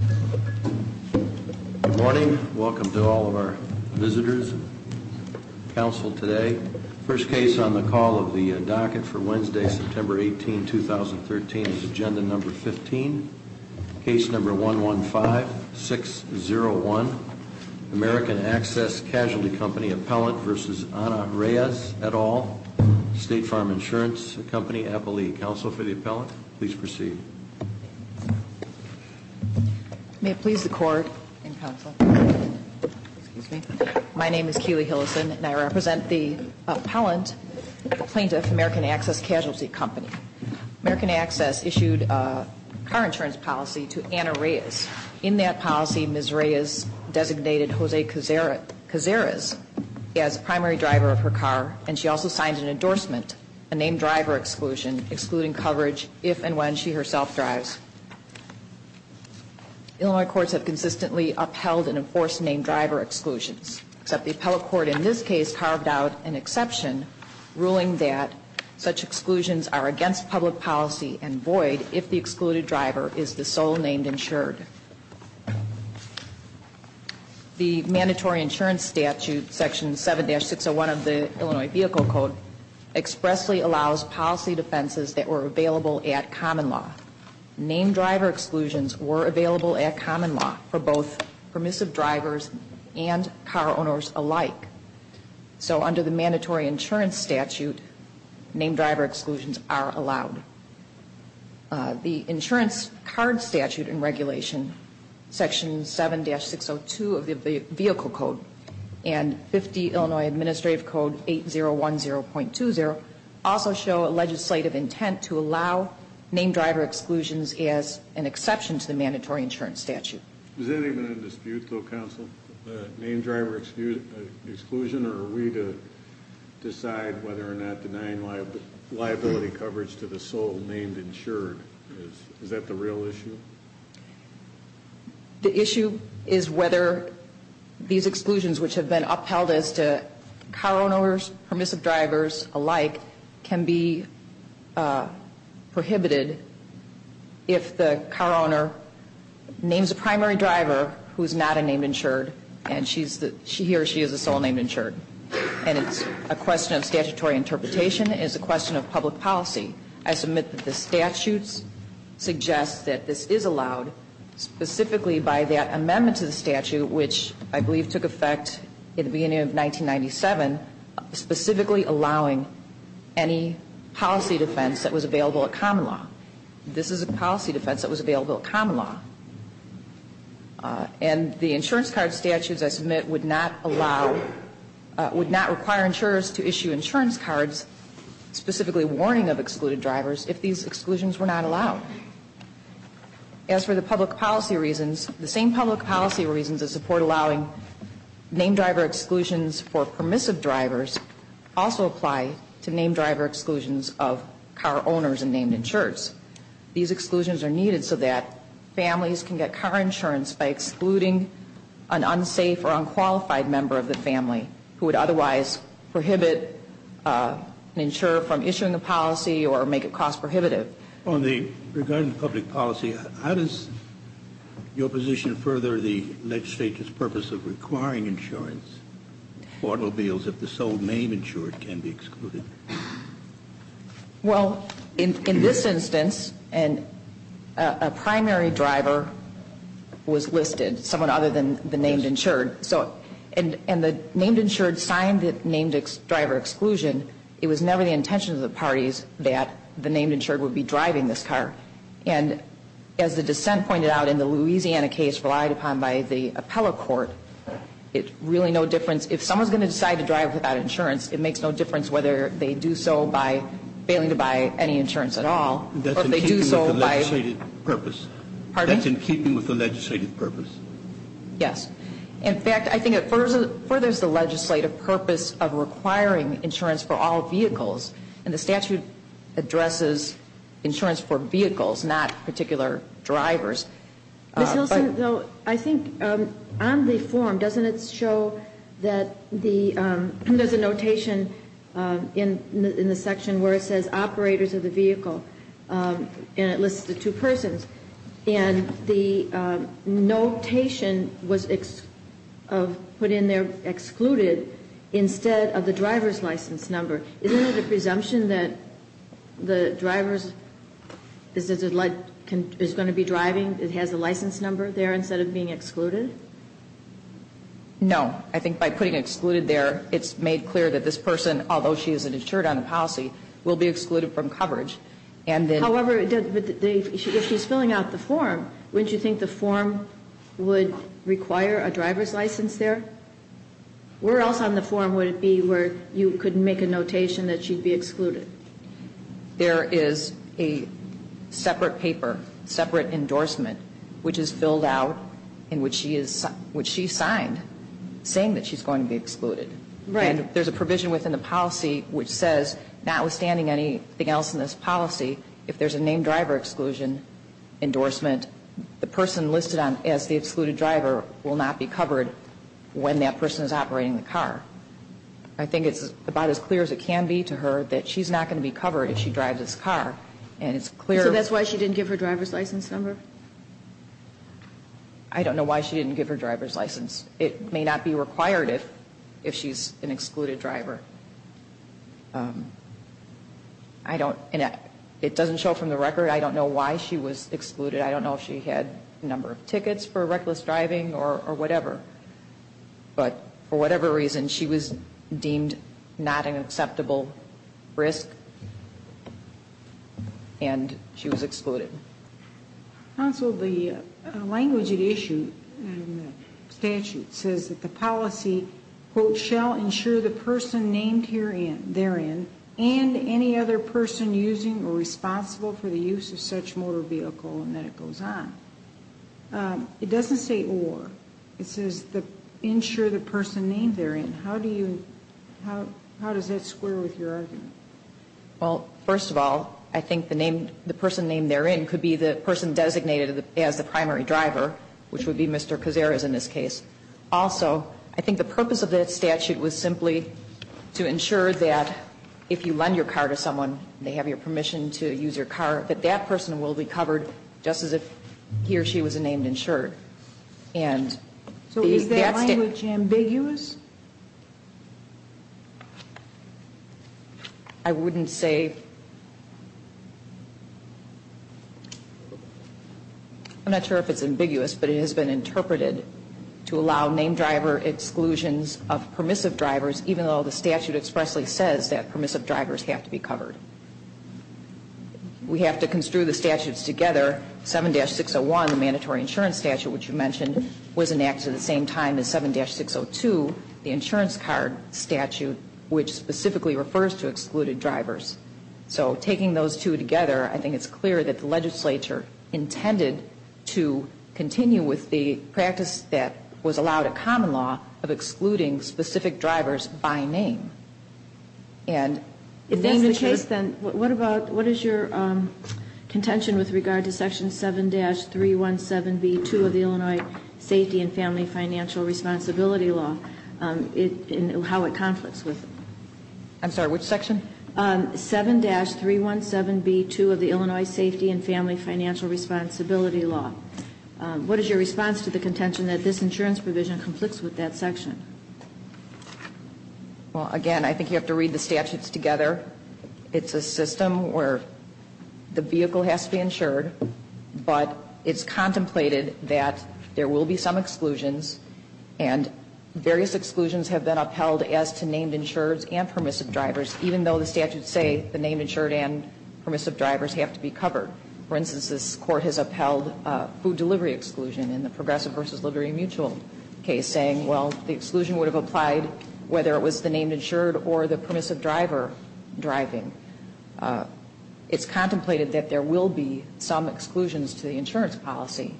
Good morning, welcome to all of our visitors, council today. First case on the call of the docket for Wednesday, September 18, 2013 is agenda number 15, case number 115601, American Access Casualty Company appellant v. Ana Reyes et al., State Farm Insurance Company appellee. Any counsel for the appellant, please proceed. May it please the court and counsel, excuse me, my name is Keely Hillison and I represent the appellant, the plaintiff, American Access Casualty Company. American Access issued a car insurance policy to Ana Reyes. In that policy, Ms. Reyes designated Jose Cazares as the primary driver of her car and she also signed an endorsement, a named driver exclusion, excluding coverage if and when she herself drives. Illinois courts have consistently upheld and enforced named driver exclusions, except the appellate court in this case carved out an exception, ruling that such exclusions are against public policy and void if the excluded driver is the sole named insured. The mandatory insurance statute, section 7-601 of the Illinois Vehicle Code, expressly allows policy defenses that were available at common law. Named driver exclusions were available at common law for both permissive drivers and car owners alike. So under the mandatory insurance statute, named driver exclusions are allowed. The insurance card statute and regulation, section 7-602 of the Vehicle Code and 50 Illinois Administrative Code 8010.20, also show a legislative intent to allow named driver exclusions as an exception to the mandatory insurance statute. Has anything been in dispute though, counsel? Named driver exclusion or are we to decide whether or not denying liability coverage to the sole named insured? Is that the real issue? The issue is whether these exclusions which have been upheld as to car owners, permissive drivers alike, can be prohibited if the car owner names a primary driver who is not a named insured and he or she is a sole named insured. And it's a question of statutory interpretation. It is a question of public policy. I submit that the statutes suggest that this is allowed specifically by that amendment to the statute, which I believe took effect in the beginning of 1997, specifically allowing any policy defense that was available at common law. This is a policy defense that was available at common law. And the insurance card statutes I submit would not allow, would not require insurers to issue insurance cards specifically warning of excluded drivers if these exclusions were not allowed. As for the public policy reasons, the same public policy reasons that support allowing named driver exclusions for permissive drivers also apply to named driver exclusions of car owners and named insureds. These exclusions are needed so that families can get car insurance by excluding an unsafe or unqualified member of the family who would otherwise prohibit an insurer from issuing a policy or make it cost prohibitive. Regarding public policy, how does your position further the legislature's purpose of requiring insurance for automobiles if the sole named insured can be excluded? Well, in this instance, a primary driver was listed, someone other than the named insured. And the named insured signed the named driver exclusion. It was never the intention of the parties that the named insured would be driving this car. And as the dissent pointed out in the Louisiana case relied upon by the appellate court, it really no difference. If someone is going to decide to drive without insurance, it makes no difference whether they do so by failing to buy any insurance at all or if they do so by That's in keeping with the legislative purpose. Pardon me? That's in keeping with the legislative purpose. Yes. In fact, I think it furthers the legislative purpose of requiring insurance for all vehicles. And the statute addresses insurance for vehicles, not particular drivers. Ms. Hilson, though, I think on the form, doesn't it show that the, there's a notation in the section where it says operators of the vehicle, and it lists the two persons. And the notation was put in there excluded instead of the driver's license number. Isn't it a presumption that the driver is going to be driving? It has a license number there instead of being excluded? No. I think by putting excluded there, it's made clear that this person, although she isn't insured on the policy, will be excluded from coverage. However, if she's filling out the form, wouldn't you think the form would require a driver's license there? Where else on the form would it be where you could make a notation that she'd be excluded? There is a separate paper, separate endorsement, which is filled out and which she signed saying that she's going to be excluded. Right. And there's a provision within the policy which says, notwithstanding anything else in this policy, if there's a named driver exclusion endorsement, the person listed as the excluded driver will not be covered when that person is operating the car. I think it's about as clear as it can be to her that she's not going to be covered if she drives this car. And it's clear. So that's why she didn't give her driver's license number? I don't know why she didn't give her driver's license. It may not be required if she's an excluded driver. I don't. And it doesn't show from the record. I don't know why she was excluded. I don't know if she had a number of tickets for reckless driving or whatever. But for whatever reason, she was deemed not an acceptable risk. And she was excluded. Counsel, the language at issue in the statute says that the policy, quote, shall ensure the person named therein and any other person using or responsible for the use of such motor vehicle and that it goes on. It doesn't say or. It says ensure the person named therein. How do you, how does that square with your argument? Well, first of all, I think the name, the person named therein could be the person designated as the primary driver, which would be Mr. Cazares in this case. Also, I think the purpose of that statute was simply to ensure that if you lend your car to someone, they have your permission to use your car, that that person will be covered just as if he or she was a named insured. And that's the. So is that language ambiguous? I wouldn't say. I'm not sure if it's ambiguous, but it has been interpreted to allow name driver exclusions of permissive drivers, even though the statute expressly says that permissive drivers have to be covered. We have to construe the statutes together. 7-601, the mandatory insurance statute, which you mentioned, was enacted at the same time as 7-602, the insurance card statute, which specifically refers to excluded drivers. So taking those two together, I think it's clear that the legislature intended to continue with the practice that was allowed at common law of excluding specific drivers by name. If that's the case, then what is your contention with regard to Section 7-317B2 of the Illinois Safety and Family Financial Responsibility Law and how it conflicts with it? I'm sorry, which section? 7-317B2 of the Illinois Safety and Family Financial Responsibility Law. What is your response to the contention that this insurance provision conflicts with that section? Well, again, I think you have to read the statutes together. It's a system where the vehicle has to be insured, but it's contemplated that there will be some exclusions, and various exclusions have been upheld as to named insureds and permissive drivers, even though the statutes say the named insured and permissive drivers have to be covered. For instance, this Court has upheld food delivery exclusion in the progressive versus liberty mutual case, saying, well, the exclusion would have applied whether it was the named insured or the permissive driver driving. It's contemplated that there will be some exclusions to the insurance policy.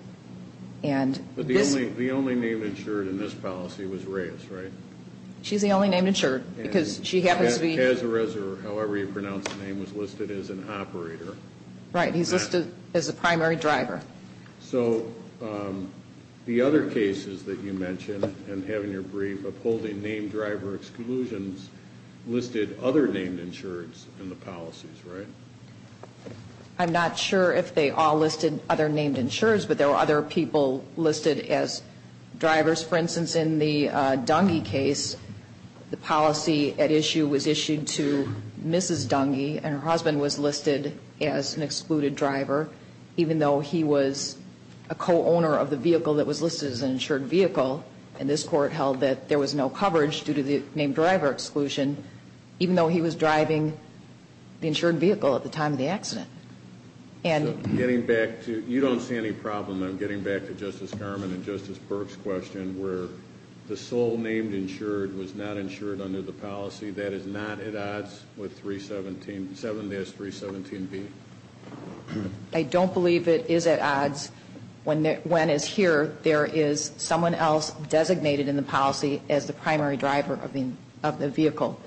But the only named insured in this policy was Reyes, right? She's the only named insured because she happens to be – As a reser, however you pronounce the name, was listed as an operator. Right. He's listed as a primary driver. So the other cases that you mentioned in having your brief upholding named driver exclusions listed other named insureds in the policies, right? I'm not sure if they all listed other named insureds, but there were other people listed as drivers. For instance, in the Dungy case, the policy at issue was issued to Mrs. Dungy, and her husband was listed as an excluded driver, even though he was a co-owner of the vehicle that was listed as an insured vehicle. And this Court held that there was no coverage due to the named driver exclusion, even though he was driving the insured vehicle at the time of the accident. So getting back to – you don't see any problem in getting back to Justice Garmon and Justice Burke's question where the sole named insured was not insured under the policy. That is not at odds with 317 – 7S-317B. I don't believe it is at odds when, as here, there is someone else designated in the policy as the primary driver of the vehicle.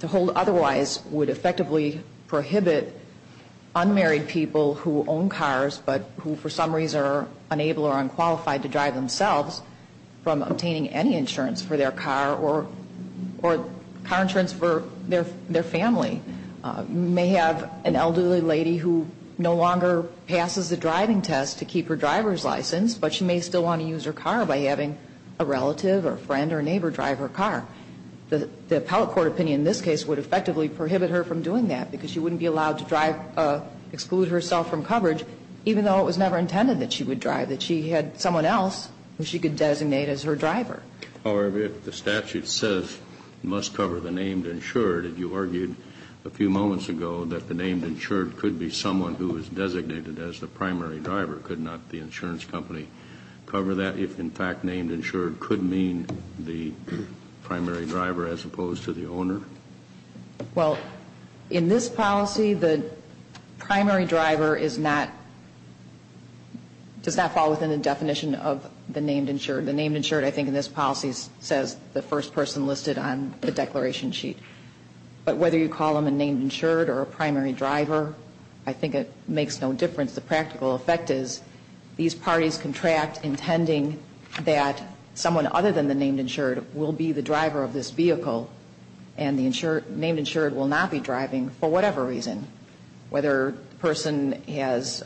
To hold otherwise would effectively prohibit unmarried people who own cars, but who for some reason are unable or unqualified to drive themselves, from obtaining any insurance for their car or car insurance for their family. You may have an elderly lady who no longer passes the driving test to keep her driver's license, but she may still want to use her car by having a relative or friend or neighbor drive her car. The appellate court opinion in this case would effectively prohibit her from doing that because she wouldn't be allowed to drive – exclude herself from coverage, even though it was never intended that she would drive, that she had someone else who she could designate as her driver. However, if the statute says must cover the named insured, and you argued a few moments ago that the named insured could be someone who is designated as the primary driver, could not the insurance company cover that if, in fact, named insured could mean the primary driver as opposed to the owner? Well, in this policy, the primary driver is not – does not fall within the definition of the named insured. The named insured, I think, in this policy says the first person listed on the declaration sheet. But whether you call them a named insured or a primary driver, I think it makes no difference. The practical effect is these parties contract intending that someone other than the named insured will be the driver of this vehicle, and the named insured will not be driving for whatever reason, whether the person has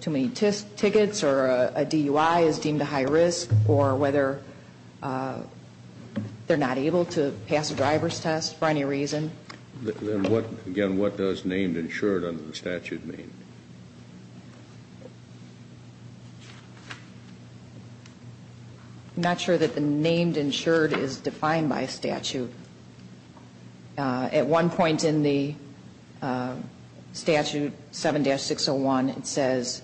too many tickets or a DUI is deemed a high risk or whether they're not able to pass a driver's test for any reason. Again, what does named insured under the statute mean? I'm not sure that the named insured is defined by statute. At one point in the statute, 7-601, it says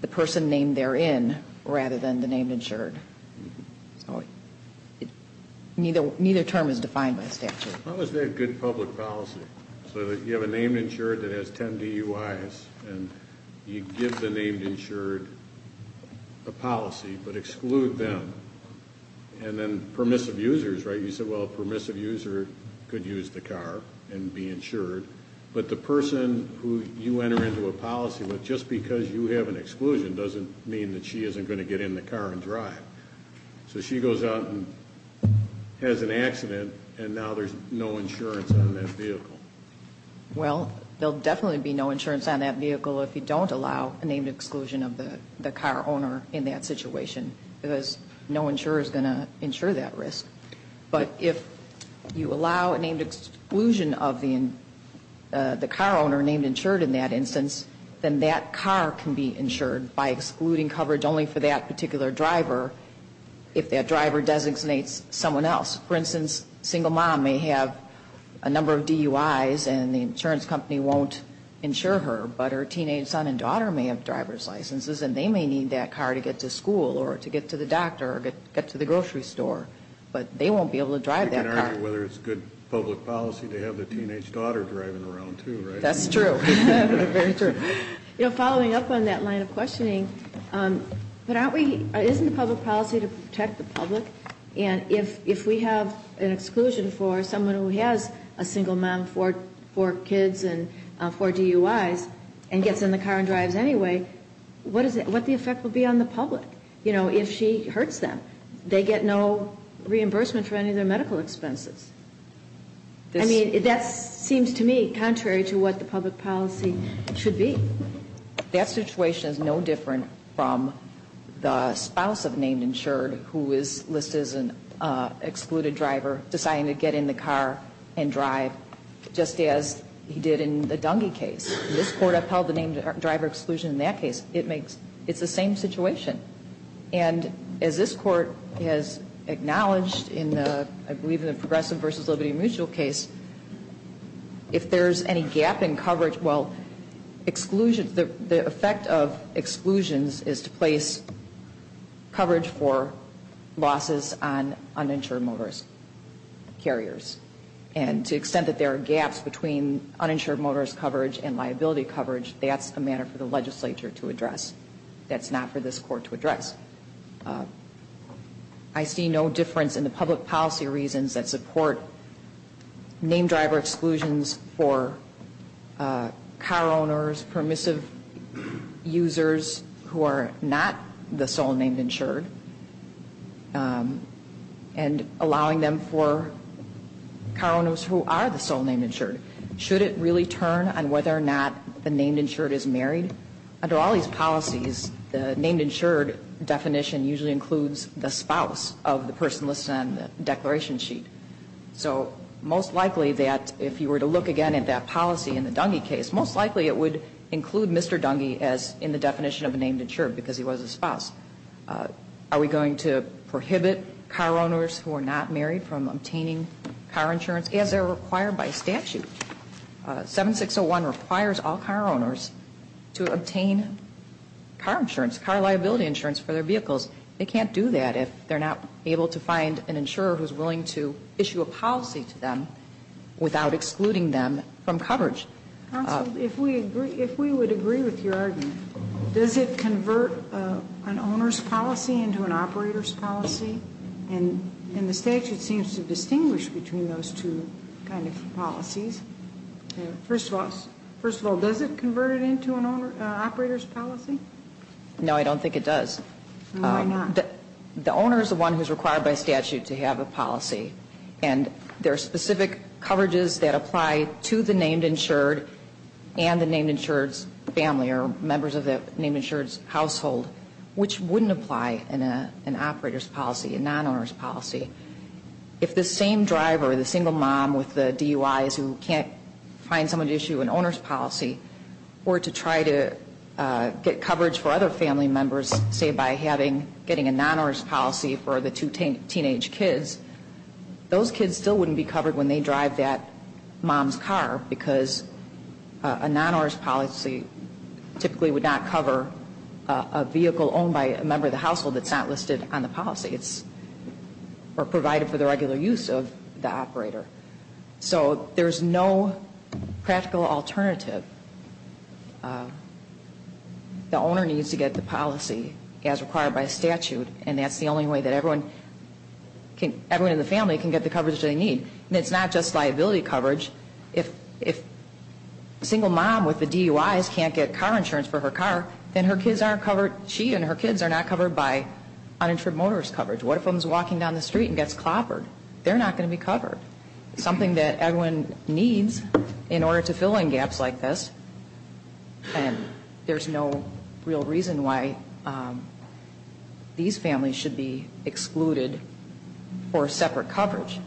the person named therein rather than the named insured. So neither term is defined by statute. How is that good public policy, so that you have a named insured that has 10 DUIs, and you give the named insured a policy but exclude them? And then permissive users, right? You said, well, a permissive user could use the car and be insured, but the person who you enter into a policy with, just because you have an exclusion, doesn't mean that she isn't going to get in the car and drive. So she goes out and has an accident, and now there's no insurance on that vehicle. Well, there will definitely be no insurance on that vehicle if you don't allow a named exclusion of the car owner in that situation, because no insurer is going to insure that risk. But if you allow a named exclusion of the car owner named insured in that instance, then that car can be insured by excluding coverage only for that particular driver if that driver designates someone else. For instance, a single mom may have a number of DUIs, and the insurance company won't insure her, but her teenage son and daughter may have driver's licenses, and they may need that car to get to school or to get to the doctor or get to the grocery store. But they won't be able to drive that car. You can argue whether it's good public policy to have the teenage daughter driving around too, right? That's true. Very true. You know, following up on that line of questioning, isn't public policy to protect the public? And if we have an exclusion for someone who has a single mom, four kids, and four DUIs, and gets in the car and drives anyway, what the effect will be on the public, you know, if she hurts them? They get no reimbursement for any of their medical expenses. I mean, that seems to me contrary to what the public policy should be. That situation is no different from the spouse of a named insured who is listed as an excluded driver deciding to get in the car and drive, just as he did in the Dungy case. This Court upheld the named driver exclusion in that case. It's the same situation. And as this Court has acknowledged in the, I believe in the Progressive v. Liberty Mutual case, if there's any gap in coverage, well, the effect of exclusions is to place coverage for losses on uninsured motorist carriers. And to the extent that there are gaps between uninsured motorist coverage and liability coverage, that's a matter for the legislature to address. That's not for this Court to address. I see no difference in the public policy reasons that support named driver exclusions for car owners, permissive users who are not the sole named insured, and allowing them for car owners who are the sole named insured. Should it really turn on whether or not the named insured is married? Under all these policies, the named insured definition usually includes the spouse of the person listed on the declaration sheet. So most likely that if you were to look again at that policy in the Dungy case, most likely it would include Mr. Dungy as in the definition of a named insured because he was a spouse. Are we going to prohibit car owners who are not married from obtaining car insurance as they're required by statute? 7601 requires all car owners to obtain car insurance, car liability insurance for their vehicles. They can't do that if they're not able to find an insurer who's willing to issue a policy to them without excluding them from coverage. Counsel, if we would agree with your argument, does it convert an owner's policy into an operator's policy? And the statute seems to distinguish between those two kind of policies. First of all, does it convert it into an operator's policy? No, I don't think it does. Why not? The owner is the one who's required by statute to have a policy, and there are specific coverages that apply to the named insured and the named insured's family or members of the named insured's household, which wouldn't apply in an operator's policy, a non-owner's policy. If the same driver, the single mom with the DUIs who can't find someone to issue an owner's policy, were to try to get coverage for other family members, say, by getting a non-owner's policy for the two teenage kids, those kids still wouldn't be covered when they drive that mom's car because a non-owner's policy typically would not cover a vehicle owned by a member of the household that's not listed on the policy. It's provided for the regular use of the operator. So there's no practical alternative. The owner needs to get the policy as required by statute, and that's the only way that everyone in the family can get the coverage they need. And it's not just liability coverage. If a single mom with the DUIs can't get car insurance for her car, then her kids aren't covered, she and her kids are not covered by uninsured motorist coverage. What if someone's walking down the street and gets clobbered? They're not going to be covered. It's something that everyone needs in order to fill in gaps like this, and there's no real reason why these families should be excluded for separate coverage,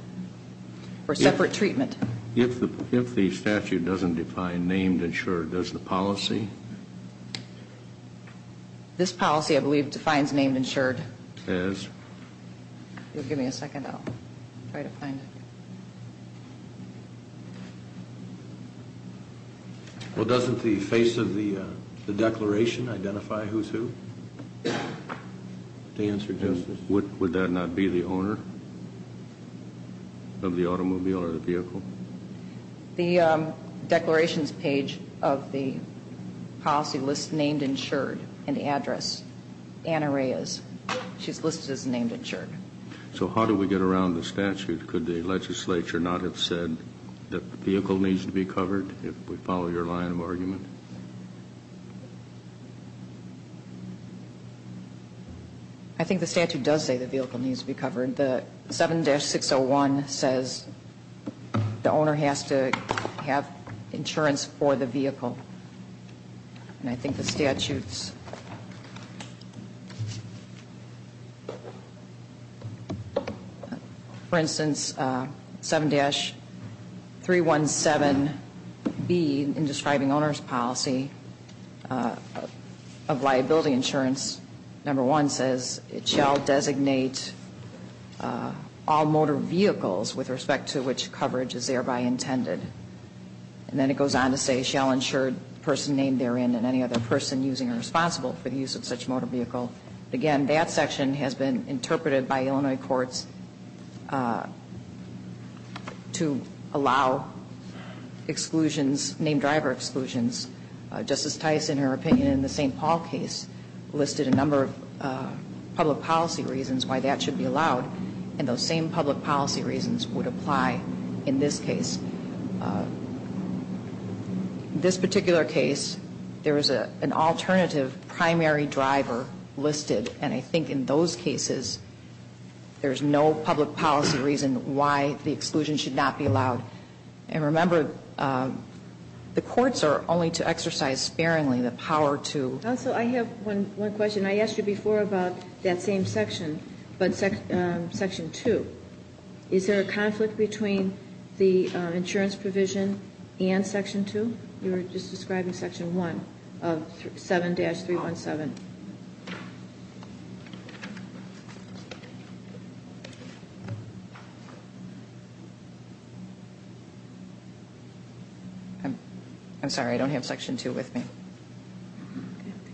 for separate treatment. If the statute doesn't define named insured, does the policy? This policy, I believe, defines named insured. It does? Give me a second. I'll try to find it. Well, doesn't the face of the declaration identify who's who? To answer Justice. Would that not be the owner of the automobile or the vehicle? The declarations page of the policy lists named insured and the address, Anna Reyes. She's listed as named insured. So how do we get around the statute? Could the legislature not have said that the vehicle needs to be covered if we follow your line of argument? I think the statute does say the vehicle needs to be covered. The 7-601 says the owner has to have insurance for the vehicle. And I think the statute's, for instance, 7-317B in describing owner's policy of liability insurance, number one says it shall designate all motor vehicles with respect to which coverage is thereby intended. And then it goes on to say shall insure person named therein and any other person using or responsible for the use of such motor vehicle. Again, that section has been interpreted by Illinois courts to allow exclusions, named driver exclusions. Justice Tice, in her opinion in the St. Paul case, listed a number of public policy reasons why that should be allowed. And those same public policy reasons would apply in this case. This particular case, there is an alternative primary driver listed. And I think in those cases, there's no public policy reason why the exclusion should not be allowed. And remember, the courts are only to exercise sparingly the power to. Counsel, I have one question. I asked you before about that same section, but section 2. Is there a conflict between the insurance provision and section 2? You were just describing section 1 of 7-317. I'm sorry. I don't have section 2 with me.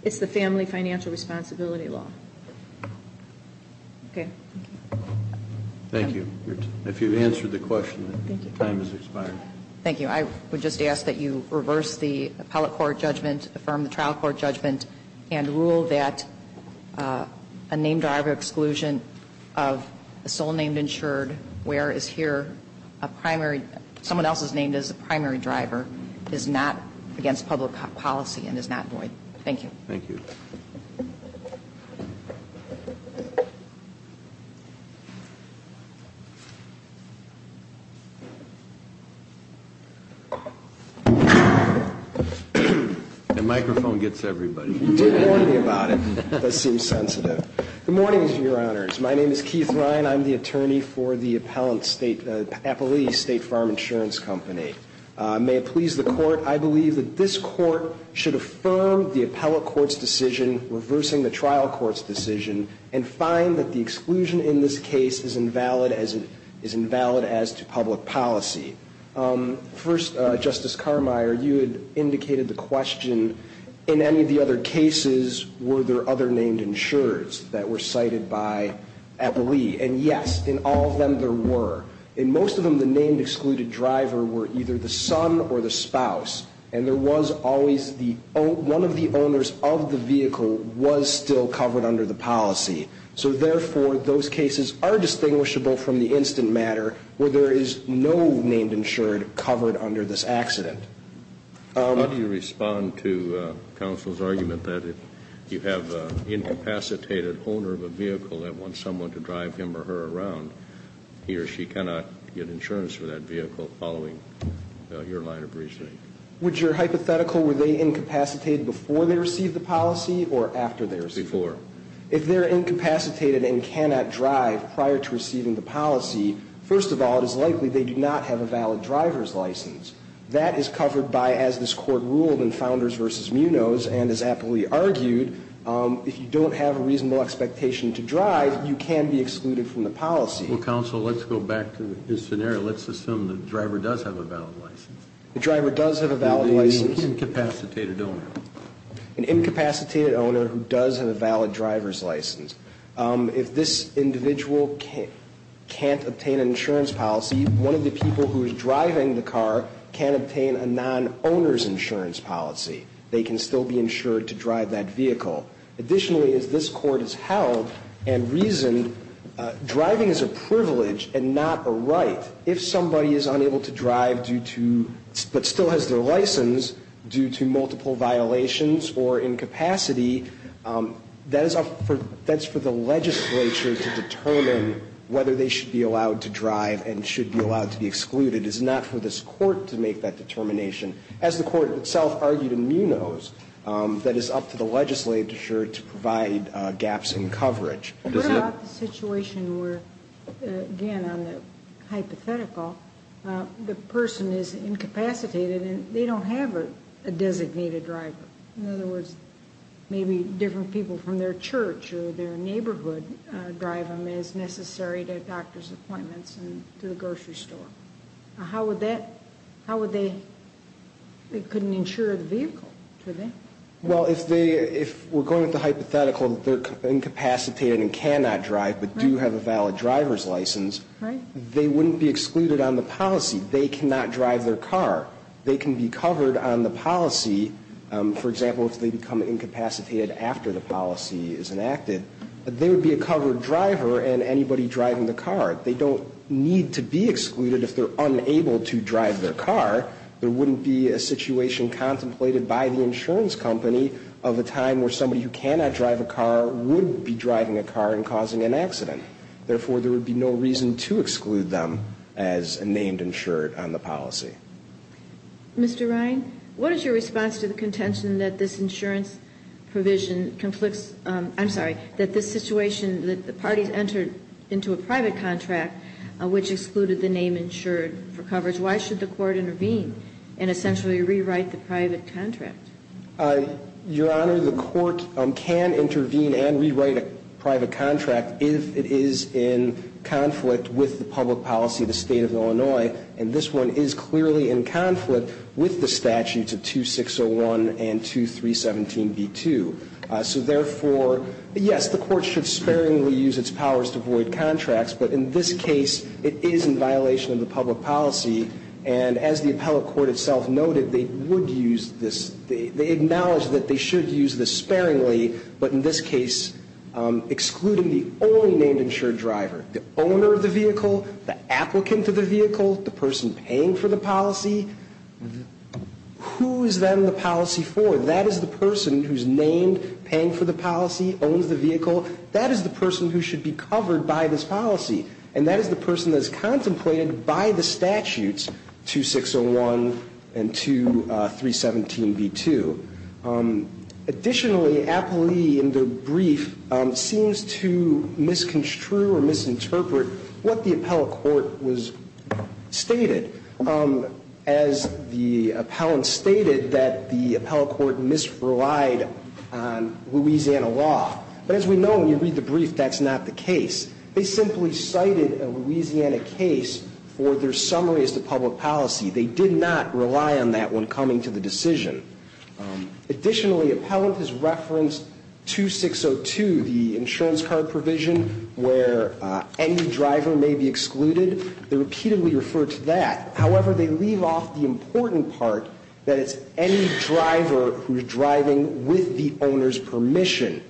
It's the family financial responsibility law. Okay. Thank you. If you've answered the question, time has expired. Thank you. I would just ask that you reverse the appellate court judgment, affirm the trial court judgment, and rule that a named driver exclusion of a sole named insured where is here a primary someone else is named as a primary driver is not against public policy and is not void. Thank you. Thank you. The microphone gets everybody. You did warn me about it. That seems sensitive. Good morning, Your Honors. My name is Keith Ryan. I'm the attorney for the appellate state, Appalee State Farm Insurance Company. May it please the court, I believe that this court should affirm the appellate court's decision, reversing the trial court's decision, and find that the exclusion in this case is invalid as to public policy. First, Justice Carmeier, you had indicated the question, in any of the other cases were there other named insureds that were cited by Appalee? And, yes, in all of them there were. In most of them, the named excluded driver were either the son or the spouse, and there was always the one of the owners of the vehicle was still covered under the policy. So, therefore, those cases are distinguishable from the instant matter where there is no named insured covered under this accident. How do you respond to counsel's argument that if you have an incapacitated owner of a vehicle that wants someone to drive him or her around, he or she cannot get insurance for that vehicle following your line of reasoning? Would your hypothetical were they incapacitated before they received the policy or after they received it? Before. If they are incapacitated and cannot drive prior to receiving the policy, first of all, it is likely they do not have a valid driver's license. That is covered by, as this Court ruled in Founders v. Munoz, and as Appalee argued, if you don't have a reasonable expectation to drive, you can be excluded from the policy. Well, counsel, let's go back to this scenario. Let's assume the driver does have a valid license. The driver does have a valid license. An incapacitated owner. An incapacitated owner who does have a valid driver's license. If this individual can't obtain an insurance policy, one of the people who is driving the car can't obtain a non-owner's insurance policy. They can still be insured to drive that vehicle. Additionally, as this Court has held and reasoned, driving is a privilege and not a right. If somebody is unable to drive due to, but still has their license due to multiple violations or incapacity, that is up for the legislature to determine whether they should be allowed to drive and should be allowed to be excluded. It is not for this Court to make that determination. As the Court itself argued in Munoz, that is up to the legislature to provide gaps in coverage. What about the situation where, again, on the hypothetical, the person is incapacitated and they don't have a designated driver? In other words, maybe different people from their church or their neighborhood drive them as necessary to doctor's appointments and to the grocery store. How would that, how would they, they couldn't insure the vehicle, could they? Well, if they, if we're going with the hypothetical that they're incapacitated and cannot drive, but do have a valid driver's license, they wouldn't be excluded on the policy. They cannot drive their car. They can be covered on the policy, for example, if they become incapacitated after the policy is enacted. They would be a covered driver and anybody driving the car. They don't need to be excluded if they're unable to drive their car. There wouldn't be a situation contemplated by the insurance company of a time where somebody who cannot drive a car would be driving a car and causing an accident. Therefore, there would be no reason to exclude them as a named insured on the policy. Mr. Ryan, what is your response to the contention that this insurance provision conflicts, I'm sorry, that this situation that the parties entered into a private contract which excluded the name insured for coverage, why should the court intervene and essentially rewrite the private contract? Your Honor, the court can intervene and rewrite a private contract if it is in conflict with the public policy of the State of Illinois, and this one is clearly in conflict with the statutes of 2601 and 2317b2. So therefore, yes, the court should sparingly use its powers to void contracts, but in this case it is in violation of the public policy, and as the appellate court itself noted, they would use this. They acknowledge that they should use this sparingly, but in this case excluding the only named insured driver, the owner of the vehicle, the applicant of the vehicle, the person paying for the policy, who is then the policy for? That is the person who is named, paying for the policy, owns the vehicle. That is the person who should be covered by this policy, and that is the person that is contemplated by the statutes 2601 and 2317b2. Additionally, Appellee, in the brief, seems to misconstrue or misinterpret what the appellate court was stated. As the appellant stated, that the appellate court misrelied on Louisiana law. But as we know, when you read the brief, that is not the case. They simply cited a Louisiana case for their summary as to public policy. They did not rely on that when coming to the decision. Additionally, appellant has referenced 2602, the insurance card provision, where any driver may be excluded. They repeatedly refer to that. However, they leave off the important part that it's any driver who is driving with the owner's permission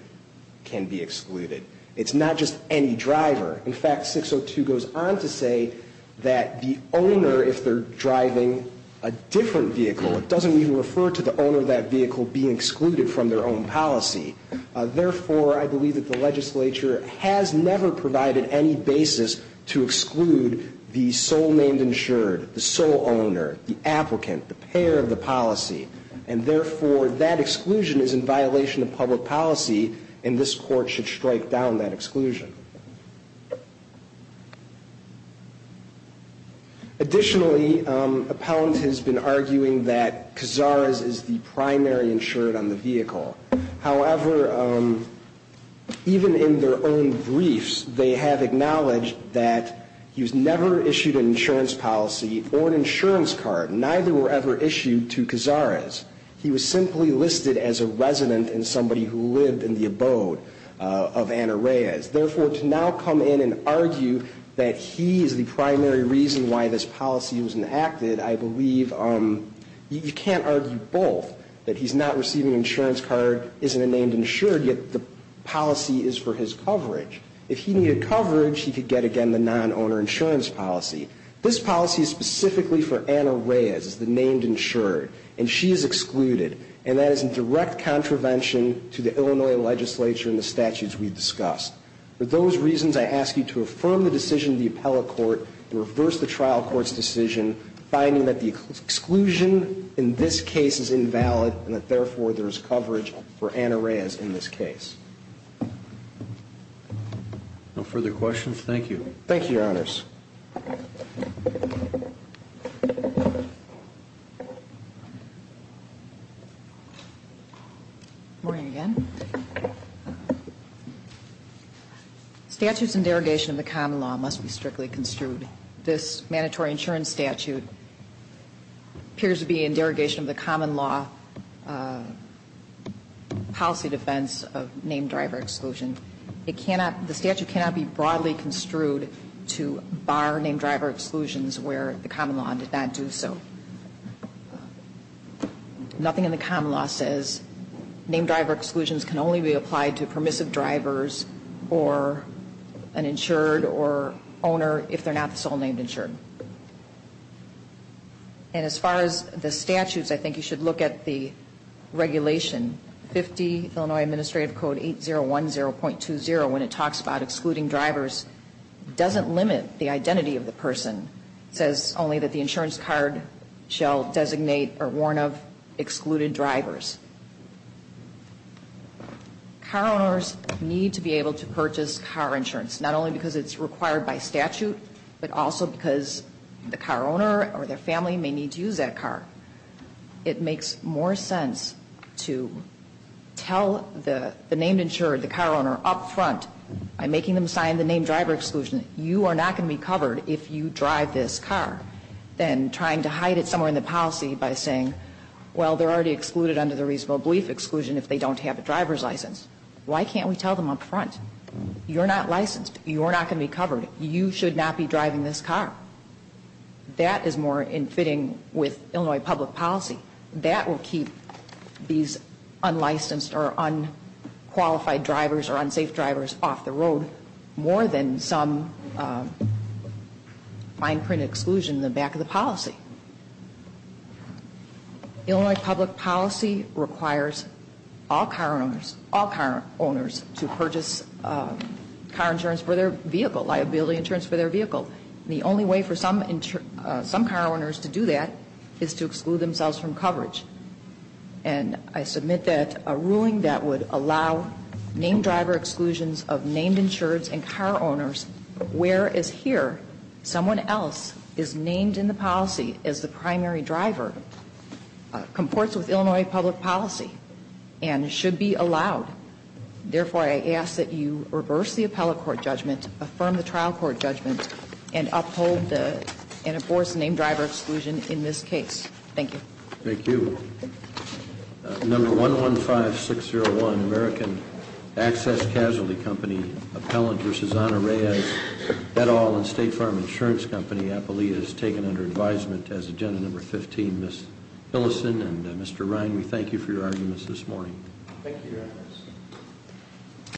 can be excluded. It's not just any driver. In fact, 602 goes on to say that the owner, if they're driving a different vehicle, it doesn't even refer to the owner of that vehicle being excluded from their own policy. Therefore, I believe that the legislature has never provided any basis to exclude the sole named insured, the sole owner, the applicant, the payer of the policy. And therefore, that exclusion is in violation of public policy, and this court should strike down that exclusion. Additionally, appellant has been arguing that Cazares is the primary insured on the vehicle. However, even in their own briefs, they have acknowledged that he was never issued an insurance policy or an insurance card. Neither were ever issued to Cazares. He was simply listed as a resident and somebody who lived in the abode of Anna Reyes. Therefore, to now come in and argue that he is the primary reason why this policy was enacted, I believe you can't argue both, that he's not receiving an insurance card, isn't a named insured, yet the policy is for his coverage. If he needed coverage, he could get, again, the non-owner insurance policy. This policy is specifically for Anna Reyes as the named insured, and she is excluded, and that is in direct contravention to the Illinois legislature and the statutes we've discussed. For those reasons, I ask you to affirm the decision of the appellate court to reverse the trial court's decision, finding that the exclusion in this case is invalid and that, therefore, there is coverage for Anna Reyes in this case. No further questions? Good morning again. Statutes in derogation of the common law must be strictly construed. This mandatory insurance statute appears to be in derogation of the common law policy defense of named driver exclusion. The statute cannot be broadly construed to bar named driver exclusions where the common law did not do so. Nothing in the common law says named driver exclusions can only be applied to permissive drivers or an insured or owner if they're not the sole named insured. And as far as the statutes, I think you should look at the regulation, 50 Illinois Administrative Code 8010.20, when it talks about excluding drivers, doesn't limit the identity of the person. It says only that the insurance card shall designate or warn of excluded drivers. Car owners need to be able to purchase car insurance, not only because it's required by statute, but also because the car owner or their family may need to use that car. It makes more sense to tell the named insured, the car owner, up front by making them sign the named driver exclusion, you are not going to be covered if you drive this car, than trying to hide it somewhere in the policy by saying, well, they're already excluded under the reasonable belief exclusion if they don't have a driver's license. Why can't we tell them up front? You're not licensed. You are not going to be covered. You should not be driving this car. That is more in fitting with Illinois public policy. That will keep these unlicensed or unqualified drivers or unsafe drivers off the road more than some fine print exclusion in the back of the policy. Illinois public policy requires all car owners to purchase car insurance for their vehicle, liability insurance for their vehicle. The only way for some car owners to do that is to exclude themselves from coverage. And I submit that a ruling that would allow named driver exclusions of named insureds and car owners, whereas here someone else is named in the policy as the primary driver, comports with Illinois public policy and should be allowed. Therefore, I ask that you reverse the appellate court judgment, affirm the trial court judgment, and uphold the, and enforce the named driver exclusion in this case. Thank you. Thank you. Number 115601, American Access Casualty Company, appellant for Shazana Reyes, et al. and State Farm Insurance Company, appellate is taken under advisement as agenda number 15. Ms. Tillison and Mr. Ryan, we thank you for your arguments this morning. Thank you, Your Honor.